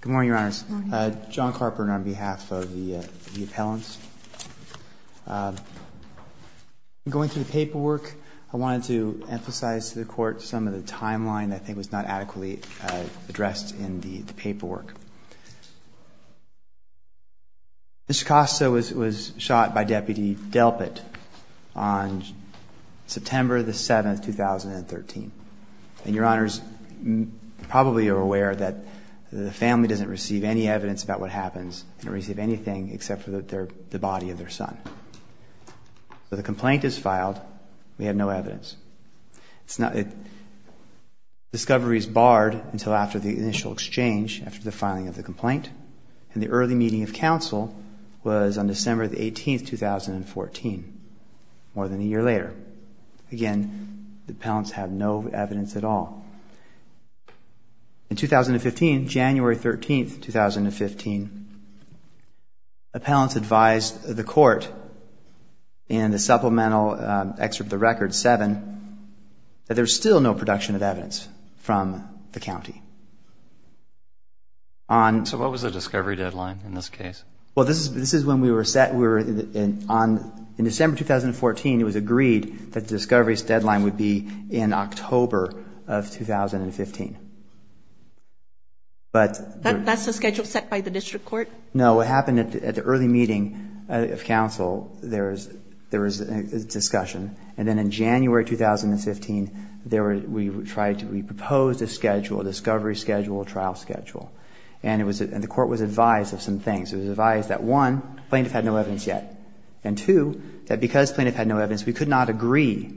Good morning, Your Honors. John Carpenter on behalf of the appellants. Going through the paperwork, I wanted to emphasize to the Court some of the timeline that I think was not adequately addressed in the paperwork. Mr. Costa was shot by Deputy Delpit on September 7, 2013. And Your Honors probably are aware that the family doesn't receive any evidence about what happens. They don't receive anything except for the body of their son. The complaint is filed. We have no evidence. Discovery is barred until after the initial exchange, after the filing of the complaint. And the early meeting of counsel was on December 18, 2014, more than a year later. Again, the appellants had no evidence at all. In 2015, January 13, 2015, appellants advised the Court in the supplemental excerpt of the record, 7, that there's still no production of evidence from the county. So what was the discovery deadline in this case? Well, this is when we were set. In December 2014, it was agreed that the discovery deadline would be in October of 2015. That's the schedule set by the district court? No, what happened at the early meeting of counsel, there was a discussion. And then in January 2015, we proposed a schedule, a discovery schedule, a trial schedule. And the Court was advised of some things. It was advised that, one, plaintiff had no evidence yet. And, two, that because plaintiff had no evidence, we could not agree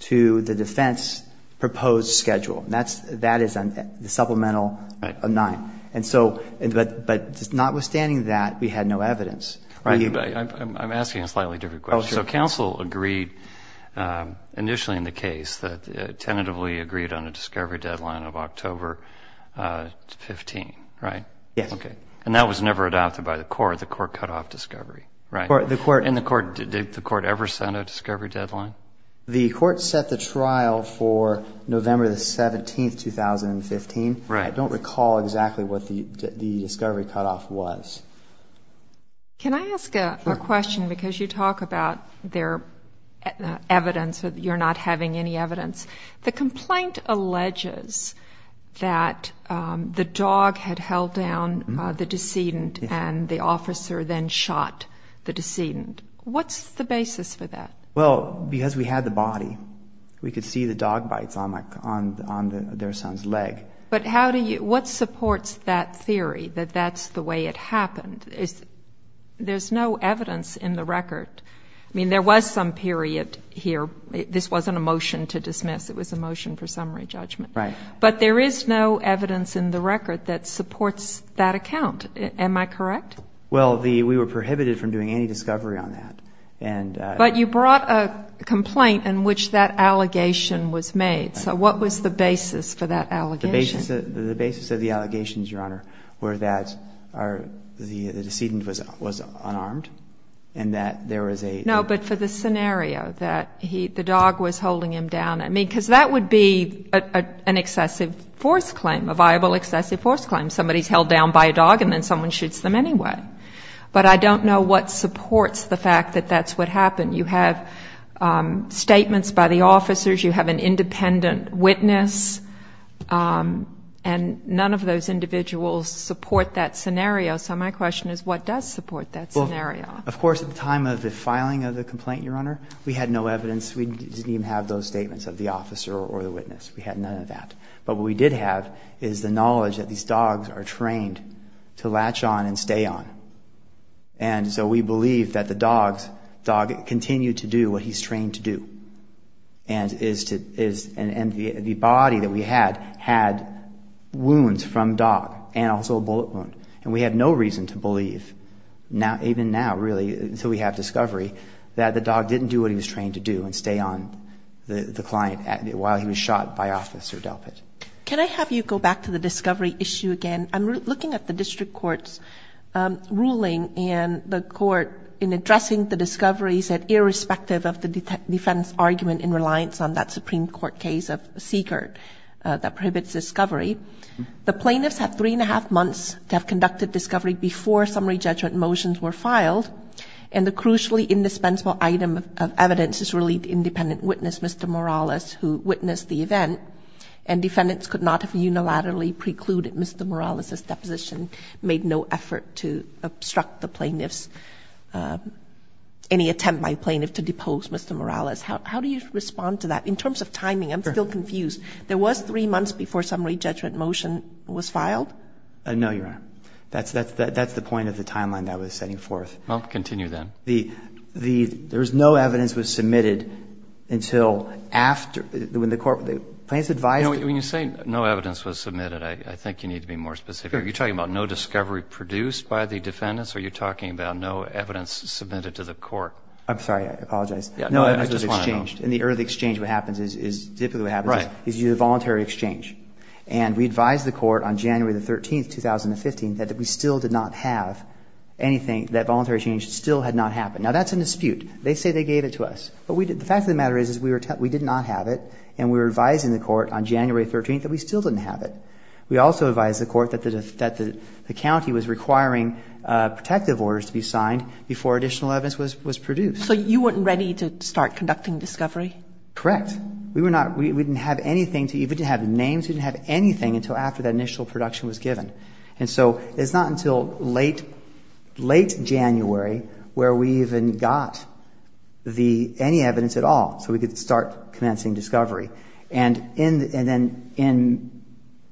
to the defense proposed schedule. That is the supplemental 9. But notwithstanding that, we had no evidence. I'm asking a slightly different question. Oh, sure. So counsel agreed initially in the case that it tentatively agreed on a discovery deadline of October 15, right? Yes. Okay. And that was never adopted by the Court. The Court cut off discovery, right? And the Court, did the Court ever set a discovery deadline? The Court set the trial for November 17, 2015. Right. I don't recall exactly what the discovery cutoff was. Can I ask a question? Because you talk about their evidence, that you're not having any evidence. The complaint alleges that the dog had held down the decedent and the officer then shot the decedent. What's the basis for that? Well, because we had the body. We could see the dog bites on their son's leg. But what supports that theory, that that's the way it happened? There's no evidence in the record. I mean, there was some period here. This wasn't a motion to dismiss. It was a motion for summary judgment. Right. But there is no evidence in the record that supports that account. Am I correct? Well, we were prohibited from doing any discovery on that. But you brought a complaint in which that allegation was made. So what was the basis for that allegation? The basis of the allegations, Your Honor, were that the decedent was unarmed and that there was a ---- No, but for the scenario that the dog was holding him down. I mean, because that would be an excessive force claim, a viable excessive force claim. Somebody's held down by a dog and then someone shoots them anyway. But I don't know what supports the fact that that's what happened. You have statements by the officers. You have an independent witness. And none of those individuals support that scenario. So my question is, what does support that scenario? Of course, at the time of the filing of the complaint, Your Honor, we had no evidence. We didn't even have those statements of the officer or the witness. We had none of that. But what we did have is the knowledge that these dogs are trained to latch on and stay on. And so we believe that the dog continued to do what he's trained to do. And the body that we had had wounds from dog and also a bullet wound. And we had no reason to believe, even now, really, until we have discovery, that the dog didn't do what he was trained to do and stay on the client while he was shot by Officer Delpit. Can I have you go back to the discovery issue again? I'm looking at the district court's ruling in the court in addressing the discoveries that irrespective of the defense argument in reliance on that Supreme Court case of Siegert that prohibits discovery, the plaintiffs have three and a half months to have conducted discovery before summary judgment motions were filed. And the crucially indispensable item of evidence is really the independent witness, Mr. Morales, who witnessed the event. And defendants could not have unilaterally precluded Mr. Morales' deposition, made no effort to obstruct the plaintiffs, any attempt by a plaintiff to depose Mr. Morales. How do you respond to that? In terms of timing, I'm still confused. There was three months before summary judgment motion was filed? No, Your Honor. That's the point of the timeline that I was setting forth. Well, continue then. There was no evidence was submitted until after, when the court, the plaintiffs advised. When you say no evidence was submitted, I think you need to be more specific. Are you talking about no discovery produced by the defendants? Are you talking about no evidence submitted to the court? I'm sorry. I apologize. No evidence was exchanged. In the early exchange, what happens is, typically what happens is you do a voluntary exchange. Right. And we advised the court on January the 13th, 2015, that we still did not have anything, that voluntary exchange still had not happened. Now, that's a dispute. They say they gave it to us. But the fact of the matter is we did not have it, and we were advising the court on January 13th that we still didn't have it. We also advised the court that the county was requiring protective orders to be signed before additional evidence was produced. So you weren't ready to start conducting discovery? Correct. We didn't have anything, we didn't even have names. We didn't have anything until after that initial production was given. And so it's not until late January where we even got any evidence at all so we could start commencing discovery. And then in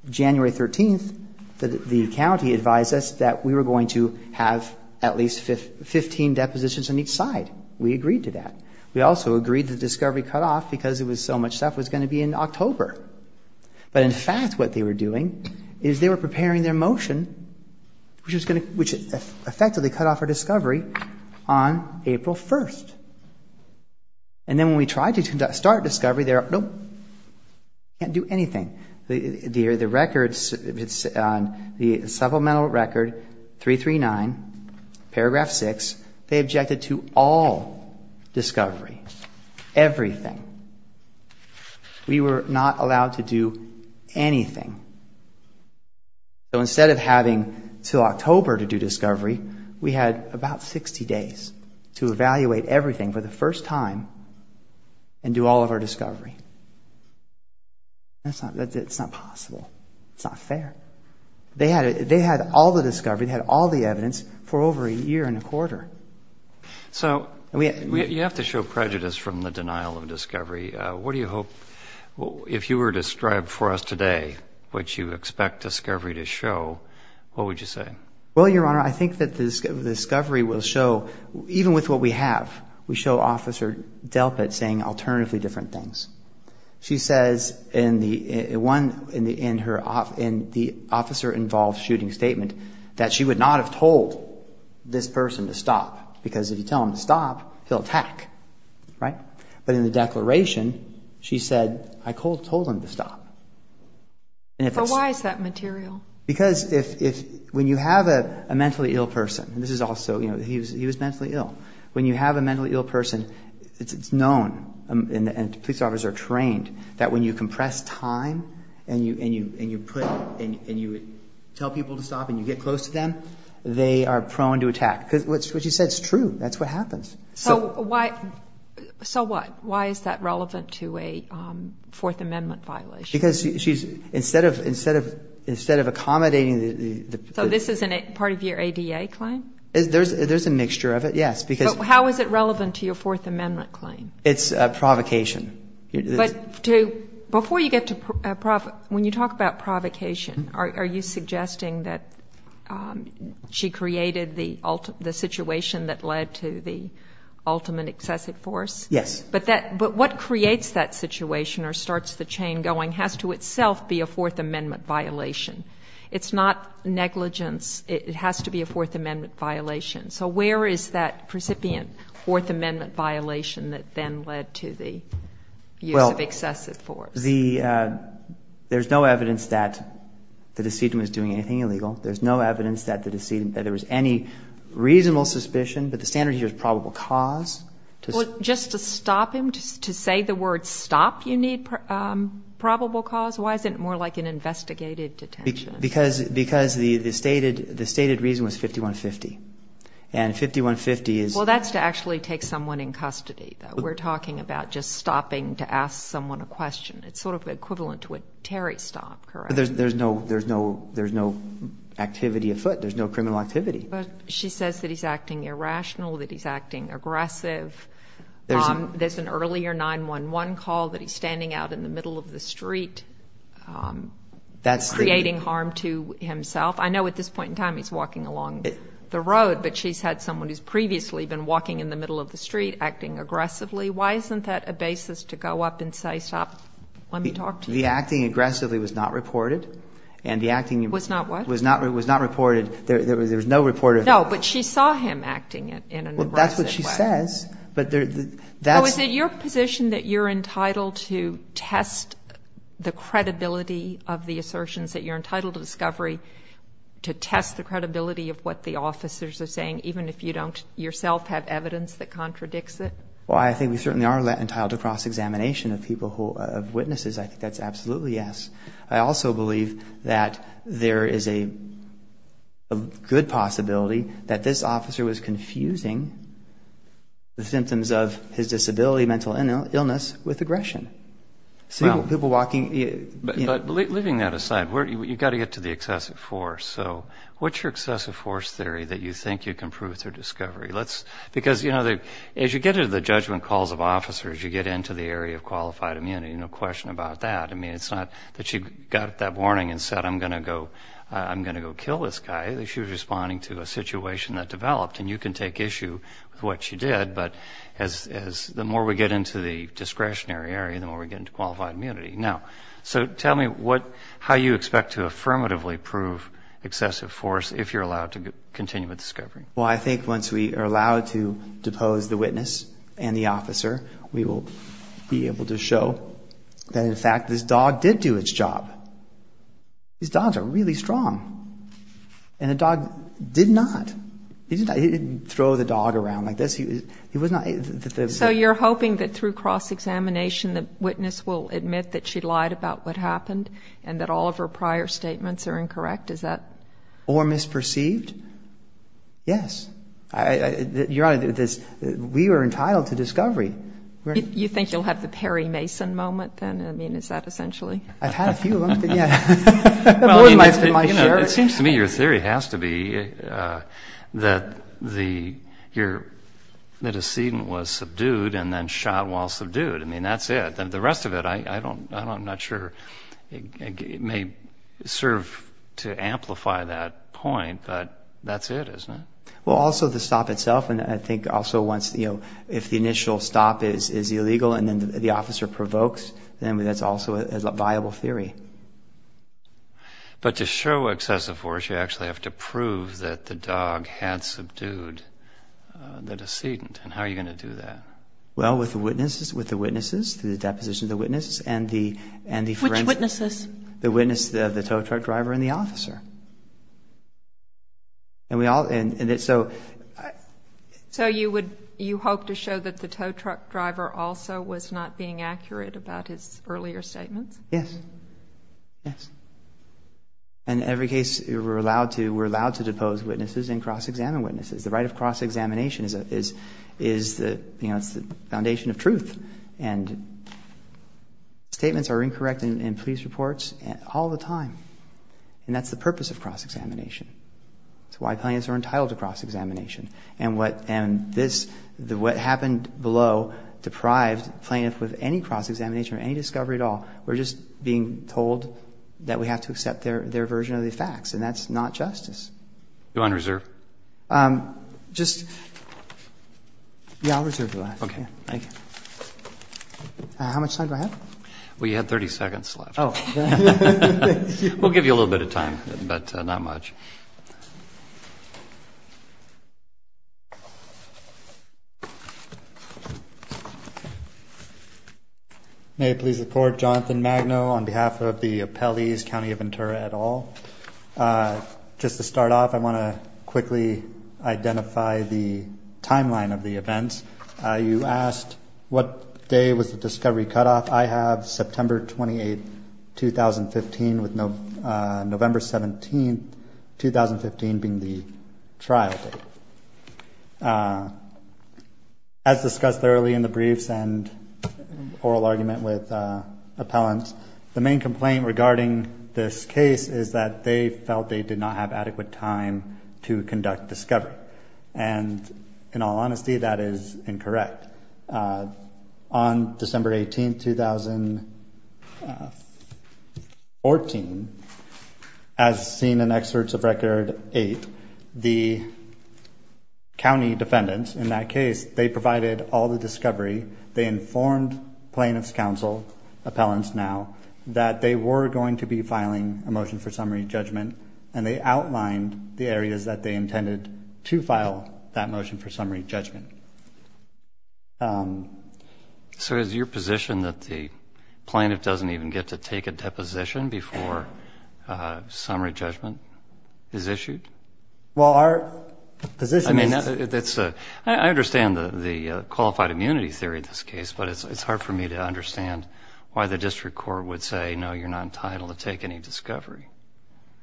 January 13th, the county advised us that we were going to have at least 15 depositions on each side. We agreed to that. We also agreed the discovery cutoff, because it was so much stuff, was going to be in October. But in fact, what they were doing is they were preparing their motion, which effectively cut off our discovery on April 1st. And then when we tried to start discovery, they were, nope, can't do anything. The supplemental record 339, paragraph 6, they objected to all discovery, everything. We were not allowed to do anything. So instead of having until October to do discovery, we had about 60 days to evaluate everything for the first time and do all of our discovery. It's not possible, it's not fair. They had all the discovery, they had all the evidence for over a year and a quarter. So you have to show prejudice from the denial of discovery. What do you hope, if you were to strive for us today, what you expect discovery to show, what would you say? Well, Your Honor, I think that the discovery will show, even with what we have, we show Officer Delpit saying alternatively different things. She says in the officer-involved shooting statement that she would not have told this person to stop. Because if you tell him to stop, he'll attack. But in the declaration, she said, I told him to stop. So why is that material? Because when you have a mentally ill person, he was mentally ill, when you have a mentally ill person, it's known, and police officers are trained, that when you compress time and you tell people to stop and you get close to them, they are prone to attack. Because what she said is true, that's what happens. So why is that relevant to a Fourth Amendment violation? Because she's, instead of accommodating the... So this isn't part of your ADA claim? There's a mixture of it, yes. But how is it relevant to your Fourth Amendment claim? It's a provocation. But before you get to provocation, when you talk about provocation, are you suggesting that she created the situation that led to the ultimate excessive force? Yes. But what creates that situation or starts the chain going has to itself be a Fourth Amendment violation. It's not negligence, it has to be a Fourth Amendment violation. So where is that precipient Fourth Amendment violation that then led to the use of excessive force? There's no evidence that the decedent was doing anything illegal. There's no evidence that there was any reasonable suspicion, but the standard here is probable cause. Well, just to stop him, to say the word stop, you need probable cause? Why is it more like an investigated detention? Because the stated reason was 5150, and 5150 is... Well, that's to actually take someone in custody, though. We're talking about just stopping to ask someone a question. It's sort of equivalent to a Terry stop, correct? There's no activity afoot. There's no criminal activity. But she says that he's acting irrational, that he's acting aggressive. There's an earlier 911 call that he's standing out in the middle of the street creating harm to himself. I know at this point in time he's walking along the road, but she's had someone who's previously been walking in the middle of the street acting aggressively. Why isn't that a basis to go up and say, stop, let me talk to you? Because the acting aggressively was not reported, and the acting... Was not what? Was not reported. There was no report of... No, but she saw him acting in an aggressive way. Well, that's what she says, but that's... Well, is it your position that you're entitled to test the credibility of the assertions, that you're entitled to discovery to test the credibility of what the officers are saying, even if you don't yourself have evidence that contradicts it? Well, I think we certainly are entitled to cross-examination of witnesses. I think that's absolutely yes. I also believe that there is a good possibility that this officer was confusing the symptoms of his disability, mental illness, with aggression. But leaving that aside, you've got to get to the excessive force. So what's your excessive force theory that you think you can prove through discovery? Because, you know, as you get into the judgment calls of officers, you get into the area of qualified immunity, no question about that. I mean, it's not that she got up that morning and said, I'm going to go kill this guy. She was responding to a situation that developed, and you can take issue with what she did. But the more we get into the discretionary area, the more we get into qualified immunity. Now, so tell me how you expect to affirmatively prove excessive force if you're allowed to continue with discovery. Well, I think once we are allowed to depose the witness and the officer, we will be able to show that, in fact, this dog did do its job. These dogs are really strong. And the dog did not. He didn't throw the dog around like this. He was not... So you're hoping that through cross-examination the witness will admit that she lied about what happened and that all of her prior statements are incorrect? Is that... Yes. Your Honor, we are entitled to discovery. You think you'll have the Perry Mason moment then? I mean, is that essentially... I've had a few of them. It seems to me your theory has to be that the decedent was subdued and then shot while subdued. I mean, that's it. The rest of it, I'm not sure, may serve to amplify that point, but that's it, isn't it? Well, also the stop itself, and I think also if the initial stop is illegal and then the officer provokes, then that's also a viable theory. But to show excessive force, you actually have to prove that the dog had subdued the decedent. And how are you going to do that? Well, with the witnesses, through the deposition of the witnesses and the... And we all... So you hope to show that the tow truck driver also was not being accurate about his earlier statements? Yes. Yes. In every case, we're allowed to depose witnesses and cross-examine witnesses. The right of cross-examination is the foundation of truth. And statements are incorrect in police reports all the time. And that's the purpose of cross-examination. It's why plaintiffs are entitled to cross-examination. And what happened below deprived plaintiffs with any cross-examination or any discovery at all. We're just being told that we have to accept their version of the facts, and that's not justice. Do you want to reserve? Yeah, I'll reserve the last. How much time do I have? Well, you had 30 seconds left. We'll give you a little bit of time, but not much. May I please report? Jonathan Magno on behalf of the appellees, County of Ventura et al. Just to start off, I want to quickly identify the timeline of the events. You asked what day was the discovery cutoff. I have September 28, 2015 with November 17, 2015 being the trial date. As discussed early in the briefs and oral argument with appellants, the main complaint regarding this case is that they felt they did not have adequate time to conduct discovery. And in all honesty, that is incorrect. On December 18, 2014, as seen in Excerpts of Record 8, the county defendants in that case, they provided all the discovery. They informed plaintiffs' counsel, appellants now, that they were going to be filing a motion for summary judgment, and they outlined the areas that they intended to file that motion for summary judgment. So is your position that the plaintiff doesn't even get to take a deposition before summary judgment is issued? I understand the qualified immunity theory of this case, but it's hard for me to understand why the district court would say, no, you're not entitled to take any discovery.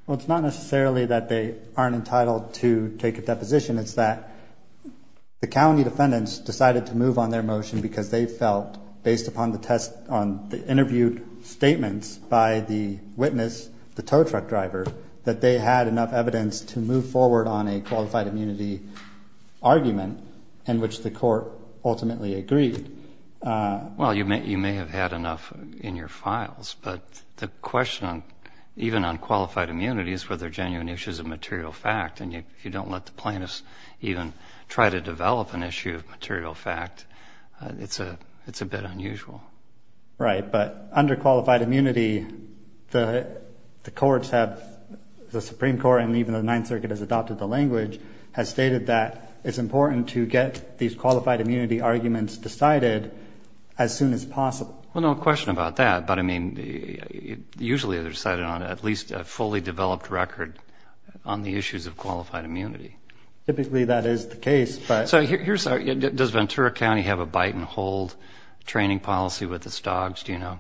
Well, it's not necessarily that they aren't entitled to take a deposition. It's that the county defendants decided to move on their motion because they felt, based upon the interviewed statements by the witness, the tow truck driver, that they had enough evidence to move forward on a qualified immunity argument in which the court ultimately agreed. Well, you may have had enough in your files, but the question, even on qualified immunity, is whether genuine issue is a material fact, and if you don't let the plaintiffs even try to develop an issue of material fact, it's a bit unusual. Right, but under qualified immunity, the Supreme Court, and even the Ninth Circuit has adopted the language, has stated that it's important to get these qualified immunity arguments decided as soon as possible. Well, no question about that, but, I mean, usually they're decided on at least a fully developed record on the issues of qualified immunity. Typically that is the case, but... Does Ventura County have a bite and hold training policy with its dogs, do you know?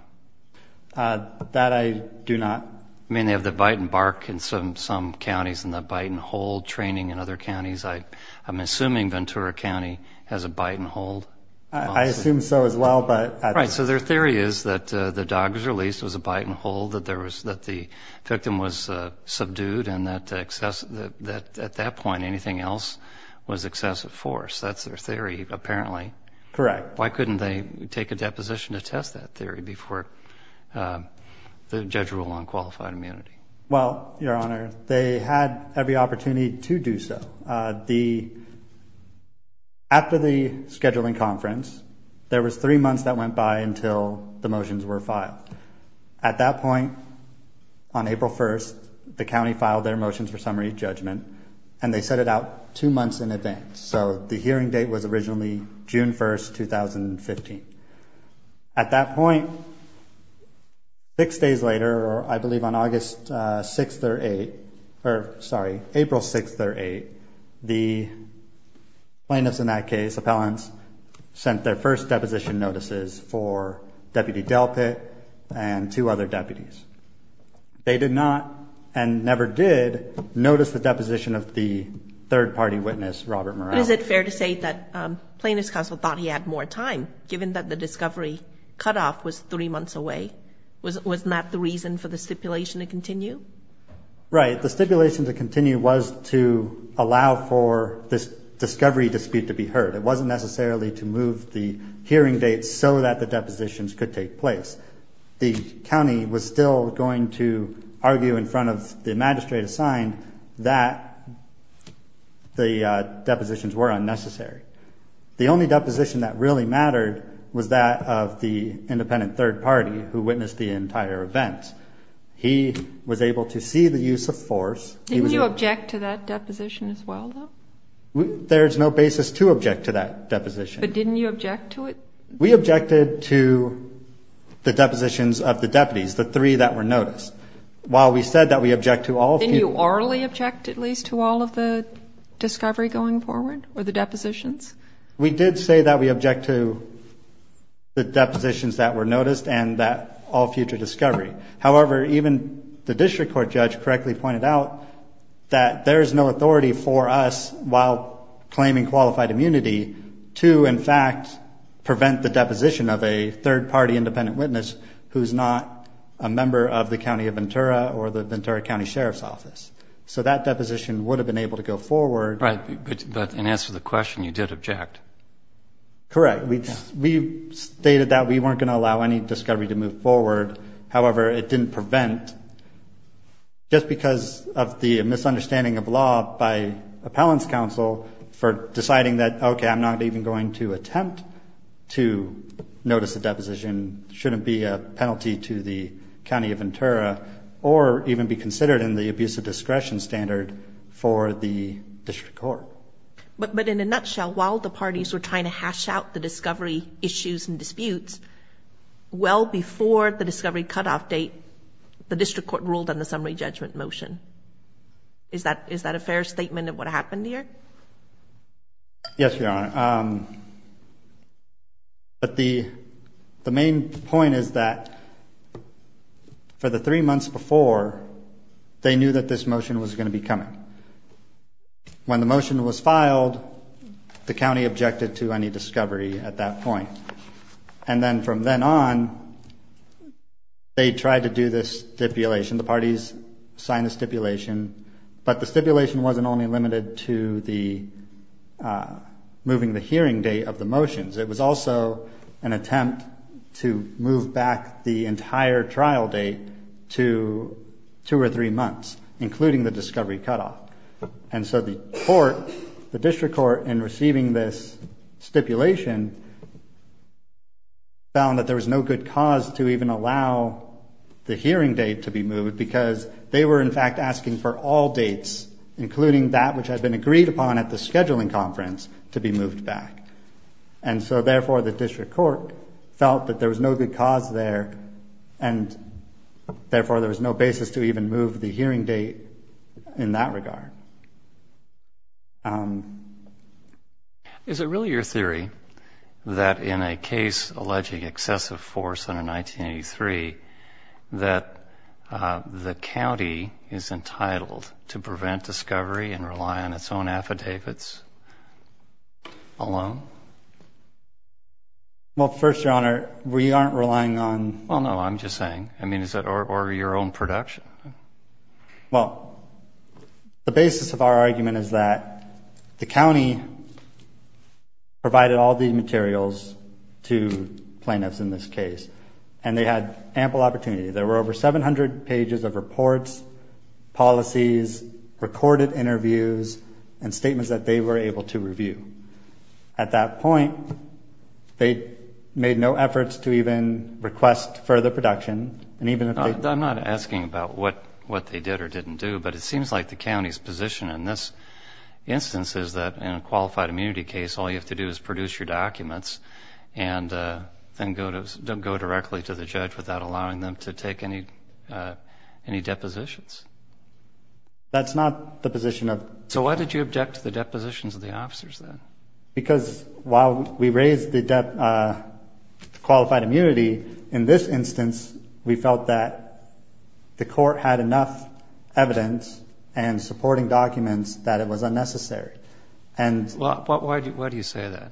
That I do not. I mean, they have the bite and bark in some counties and the bite and hold training in other counties. I'm assuming Ventura County has a bite and hold policy. And anything else was excessive force, that's their theory, apparently. Correct. Why couldn't they take a deposition to test that theory before the judge ruled on qualified immunity? Well, Your Honor, they had every opportunity to do so. After the scheduling conference, there was three months that went by until the motions were filed. At that point, on April 1st, the county filed their motions for summary judgment, and they set it out two months in advance. So the hearing date was originally June 1st, 2015. At that point, six days later, or I believe on August 6th or 8th, or, sorry, April 6th or 8th, the plaintiffs in that case, sent their first deposition notices for Deputy Delpit and two other deputies. They did not and never did notice the deposition of the third-party witness, Robert Morel. But is it fair to say that Plaintiffs' Counsel thought he had more time, given that the discovery cutoff was three months away? Was that the reason for the stipulation to continue? Right. The stipulation to continue was to allow for this discovery dispute to be heard. It wasn't necessarily to move the hearing date so that the depositions could take place. The county was still going to argue in front of the magistrate assigned that the depositions were unnecessary. The only deposition that really mattered was that of the independent third party, who witnessed the entire event. He was able to see the use of force. Didn't you object to that deposition as well, though? There's no basis to object to that deposition. But didn't you object to it? We objected to the depositions of the deputies, the three that were noticed. While we said that we object to all future... Didn't you orally object at least to all of the discovery going forward or the depositions? We did say that we object to the depositions that were noticed and that all future discovery. However, even the district court judge correctly pointed out that there is no authority for us, while claiming qualified immunity, to in fact prevent the deposition of a third party independent witness who's not a member of the county of Ventura or the Ventura County Sheriff's Office. So that deposition would have been able to go forward. But in answer to the question, you did object. Correct. We stated that we weren't going to allow any discovery to move forward. However, it didn't prevent, just because of the misunderstanding of law by appellant's counsel for deciding that, okay, I'm not even going to attempt to notice a deposition. It shouldn't be a penalty to the county of Ventura or even be considered in the abuse of discretion standard for the district court. But in a nutshell, while the parties were trying to hash out the discovery issues and disputes, well before the discovery cutoff date, the district court ruled on the summary judgment motion. Is that a fair statement of what happened here? Yes, Your Honor. But the main point is that for the three months before, they knew that this motion was going to be coming. When the motion was filed, the county objected to any discovery at that point. And then from then on, they tried to do this stipulation. The parties signed the stipulation. But the stipulation wasn't only limited to moving the hearing date of the motions. It was also an attempt to move back the entire trial date to two or three months, including the discovery cutoff. And so the court, the district court, in receiving this stipulation, found that there was no good cause to even allow the hearing date to be moved because they were, in fact, asking for all dates, including that which had been agreed upon at the scheduling conference, to be moved back. And so, therefore, the district court felt that there was no good cause there and, therefore, there was no basis to even move the hearing date in that regard. Is it really your theory that in a case alleging excessive force under 1983, that the county is entitled to prevent discovery and rely on its own affidavits alone? Well, first, Your Honor, we aren't relying on... Well, no, I'm just saying, I mean, or your own production? Well, the basis of our argument is that the county provided all the materials to plaintiffs in this case, and they had ample opportunity. There were over 700 pages of reports, policies, recorded interviews, and statements that they were able to review. At that point, they made no efforts to even request further production, and even if they... I'm not asking about what they did or didn't do, but it seems like the county's position in this instance is that in a qualified immunity case, all you have to do is produce your documents and then go directly to the judge without allowing them to take any depositions. That's not the position of... So why did you object to the depositions of the officers, then? Because while we raised the qualified immunity, in this instance, we felt that the court had enough evidence and supporting documents that it was unnecessary. Well, why do you say that?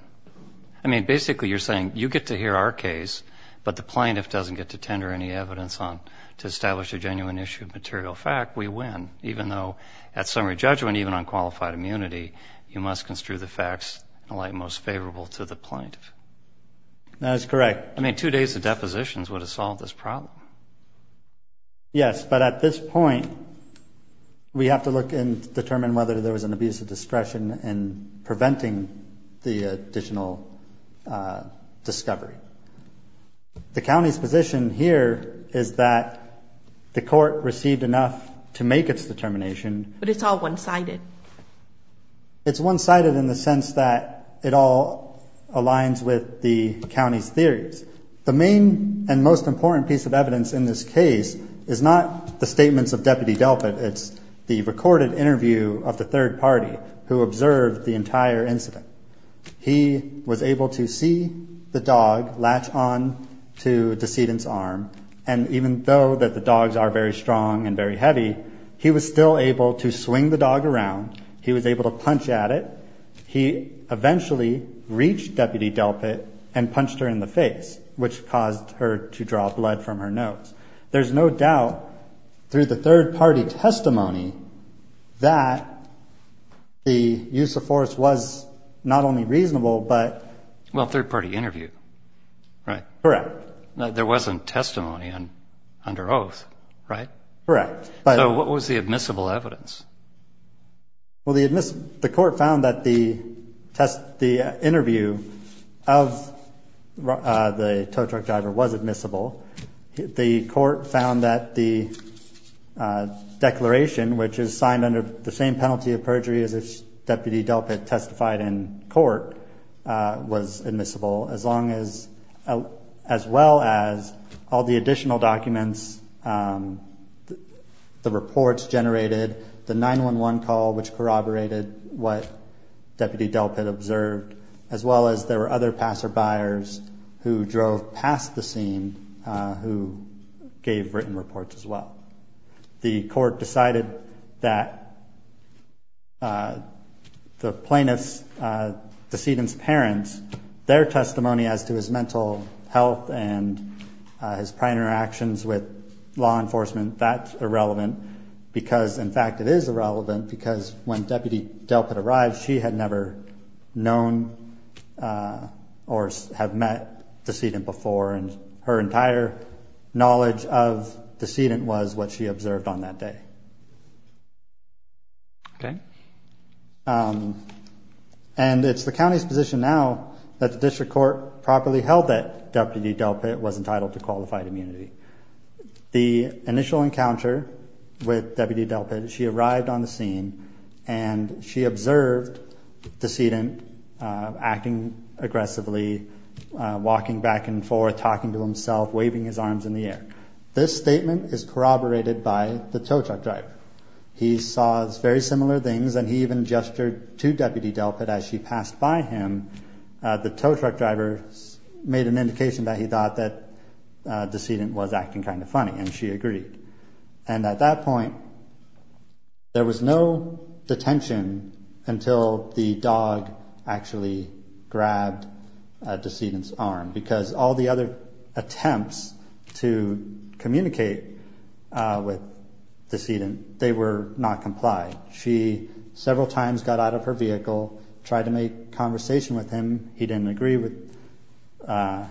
I mean, basically you're saying you get to hear our case, but the plaintiff doesn't get to tender any evidence to establish a genuine issue of material fact. We win, even though at summary judgment, even on qualified immunity, you must construe the facts in a light most favorable to the plaintiff. That is correct. I mean, two days of depositions would have solved this problem. Yes, but at this point, we have to look and determine whether there was an abuse of discretion in preventing the additional discovery. The county's position here is that the court received enough to make its determination... But it's all one-sided. It's one-sided in the sense that it all aligns with the county's theories. The only evidence in this case is not the statements of Deputy Delpit. It's the recorded interview of the third party who observed the entire incident. He was able to see the dog latch on to the decedent's arm. And even though that the dogs are very strong and very heavy, he was still able to swing the dog around. He was able to punch at it. He eventually reached Deputy Delpit and punched her in the face, which caused her to draw blood from her nose. There's no doubt through the third party testimony that the use of force was not only reasonable, but... Well, third party interview. Right. Correct. There wasn't testimony under oath, right? Correct. So what was the admissible evidence? Well, the court found that the interview of the tow truck driver was admissible. The court found that the declaration, which is signed under the same penalty of perjury as if Deputy Delpit testified in court, was admissible. As long as... As well as all the additional documents, the reports generated, the 911 call, which corroborated what Deputy Delpit observed. As well as there were other passerbyers who drove past the scene who gave written reports as well. The court decided that the plaintiff's decedent's parents, their testimony as to his mental health and his prior interactions with law enforcement, that's irrelevant. Because, in fact, it is irrelevant because when Deputy Delpit arrived, she had never known Deputy Delpit. Or have met the decedent before, and her entire knowledge of the decedent was what she observed on that day. And it's the county's position now that the district court properly held that Deputy Delpit was entitled to qualified immunity. The initial encounter with Deputy Delpit, she arrived on the scene and she observed the decedent, you know, acting aggressively, walking back and forth, talking to himself, waving his arms in the air. This statement is corroborated by the tow truck driver. He saw very similar things, and he even gestured to Deputy Delpit as she passed by him. The tow truck driver made an indication that he thought that the decedent was acting kind of funny, and she agreed. And at that point, there was no detention until the dog actually came out of the car. And she grabbed a decedent's arm, because all the other attempts to communicate with the decedent, they were not complied. She several times got out of her vehicle, tried to make conversation with him. He didn't agree with,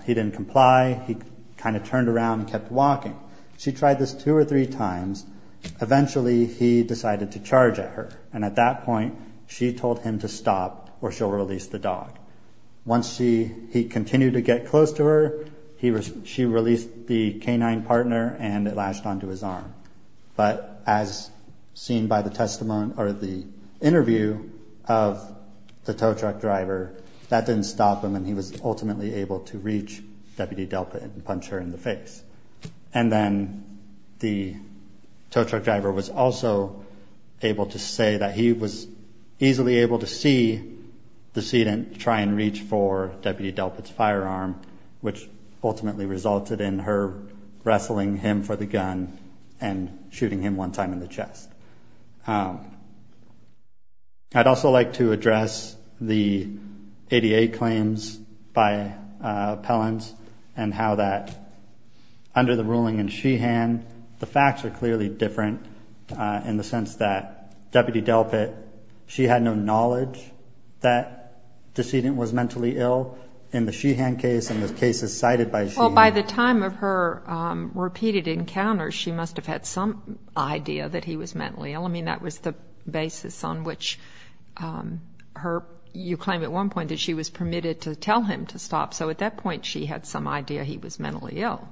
he didn't comply. He kind of turned around and kept walking. She tried this two or three times. Eventually, he decided to charge at her, and at that point, she told him to stop or she'll release the dog. Once he continued to get close to her, she released the canine partner and it latched onto his arm. But as seen by the testimony or the interview of the tow truck driver, that didn't stop him, and he was ultimately able to reach Deputy Delpit and punch her in the face. And then the tow truck driver was also able to say that he was easily able to see the decedent try and reach for Deputy Delpit's firearm, which ultimately resulted in her wrestling him for the gun and shooting him one time in the chest. I'd also like to address the ADA claims by appellants and how that under the ruling in Sheehan, the facts are clearly different in the sense that Deputy Delpit, she had no knowledge that the decedent was mentally ill. In the Sheehan case and the cases cited by Sheehan. By the time of her repeated encounters, she must have had some idea that he was mentally ill. I mean, that was the basis on which you claim at one point that she was permitted to tell him to stop. So at that point, she had some idea he was mentally ill.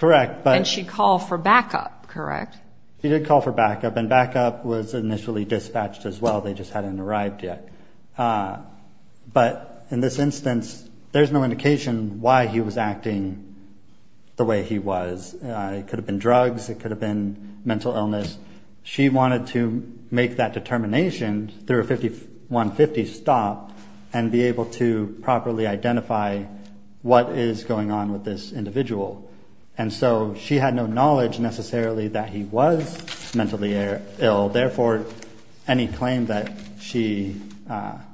And she called for backup, correct? He did call for backup, and backup was initially dispatched as well. They just hadn't arrived yet. But in this instance, there's no indication why he was acting the way he was. It could have been drugs. It could have been mental illness. She wanted to make that determination through a 5150 stop and be able to properly identify what is going on with this individual. And so she had no knowledge necessarily that he was mentally ill. Therefore, any claim that she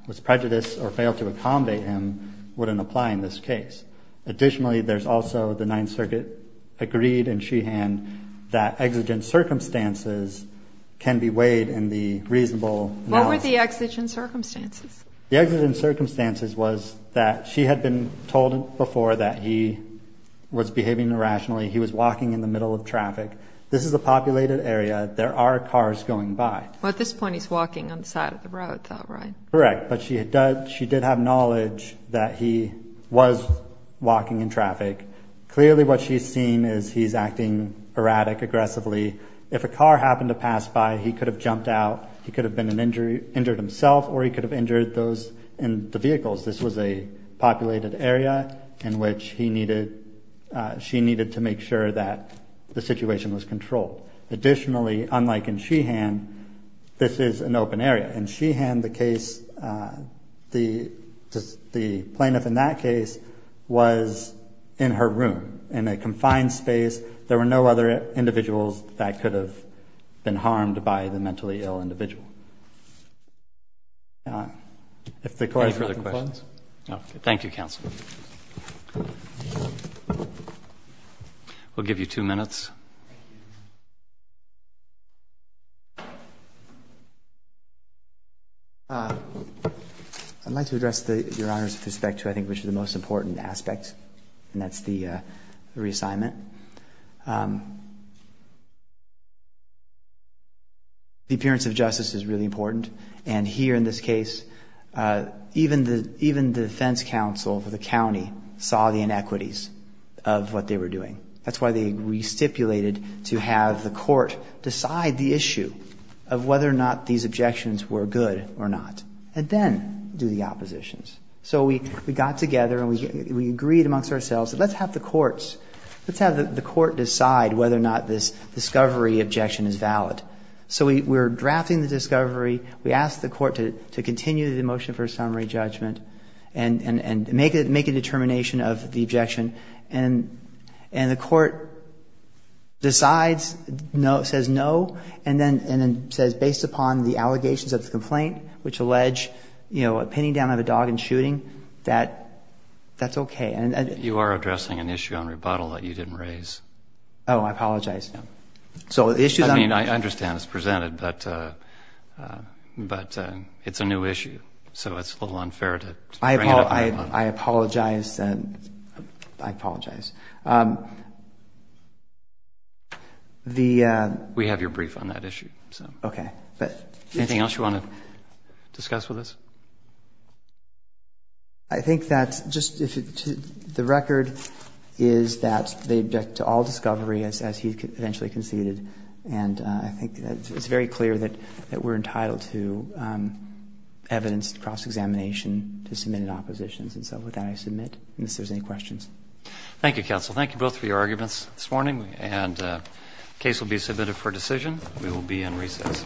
was prejudiced or failed to accommodate him wouldn't apply in this case. Additionally, there's also the Ninth Circuit agreed in Sheehan that exigent circumstances can be weighed in the reasonable analysis. What were the exigent circumstances? The exigent circumstances was that she had been told before that he was behaving irrationally. He was walking in the middle of traffic. This is a populated area. There are cars going by. Well, at this point, he's walking on the side of the road, though, right? Correct. But she did have knowledge that he was walking in traffic. Clearly, what she's seen is he's acting erratic, aggressively. If a car happened to pass by, he could have jumped out. He could have been injured himself, or he could have injured those in the vehicles. This was a populated area in which she needed to make sure that the situation was controlled. Additionally, unlike in Sheehan, this is an open area. In Sheehan, the plaintiff in that case was in her room, in a confined space. There were no other individuals that could have been harmed by the mentally ill individual. Any further questions? No. Thank you, counsel. We'll give you two minutes. I'd like to address, Your Honor, with respect to, I think, which is the most important aspect, and that's the reassignment. The appearance of justice is really important, and here in this case, even the defense counsel for the county saw the inequities of what they were doing. That's why they re-stipulated to have the court decide the issue of whether or not these objections were good or not, and then do the oppositions. So we got together, and we agreed amongst ourselves that let's have the courts decide whether or not this discovery objection is valid. So we were drafting the discovery. We asked the court to continue the motion for a summary judgment and make a determination of the objection, and the court decides, says no, and then says, based upon the allegations of the complaint, which allege pinning down of a dog and shooting, that that's okay. You are addressing an issue on rebuttal that you didn't raise. Oh, I apologize. I understand it's presented, but it's a new issue, so it's a little unfair to bring it up. I apologize. We have your brief on that issue. Anything else you want to discuss with us? I think that just the record is that they object to all discovery as he eventually conceded, and I think it's very clear that we're entitled to evidence cross-examination to submit in oppositions. And so with that, I submit, unless there's any questions. Thank you, counsel. Thank you both for your arguments this morning, and the case will be submitted for decision. We will be in recess.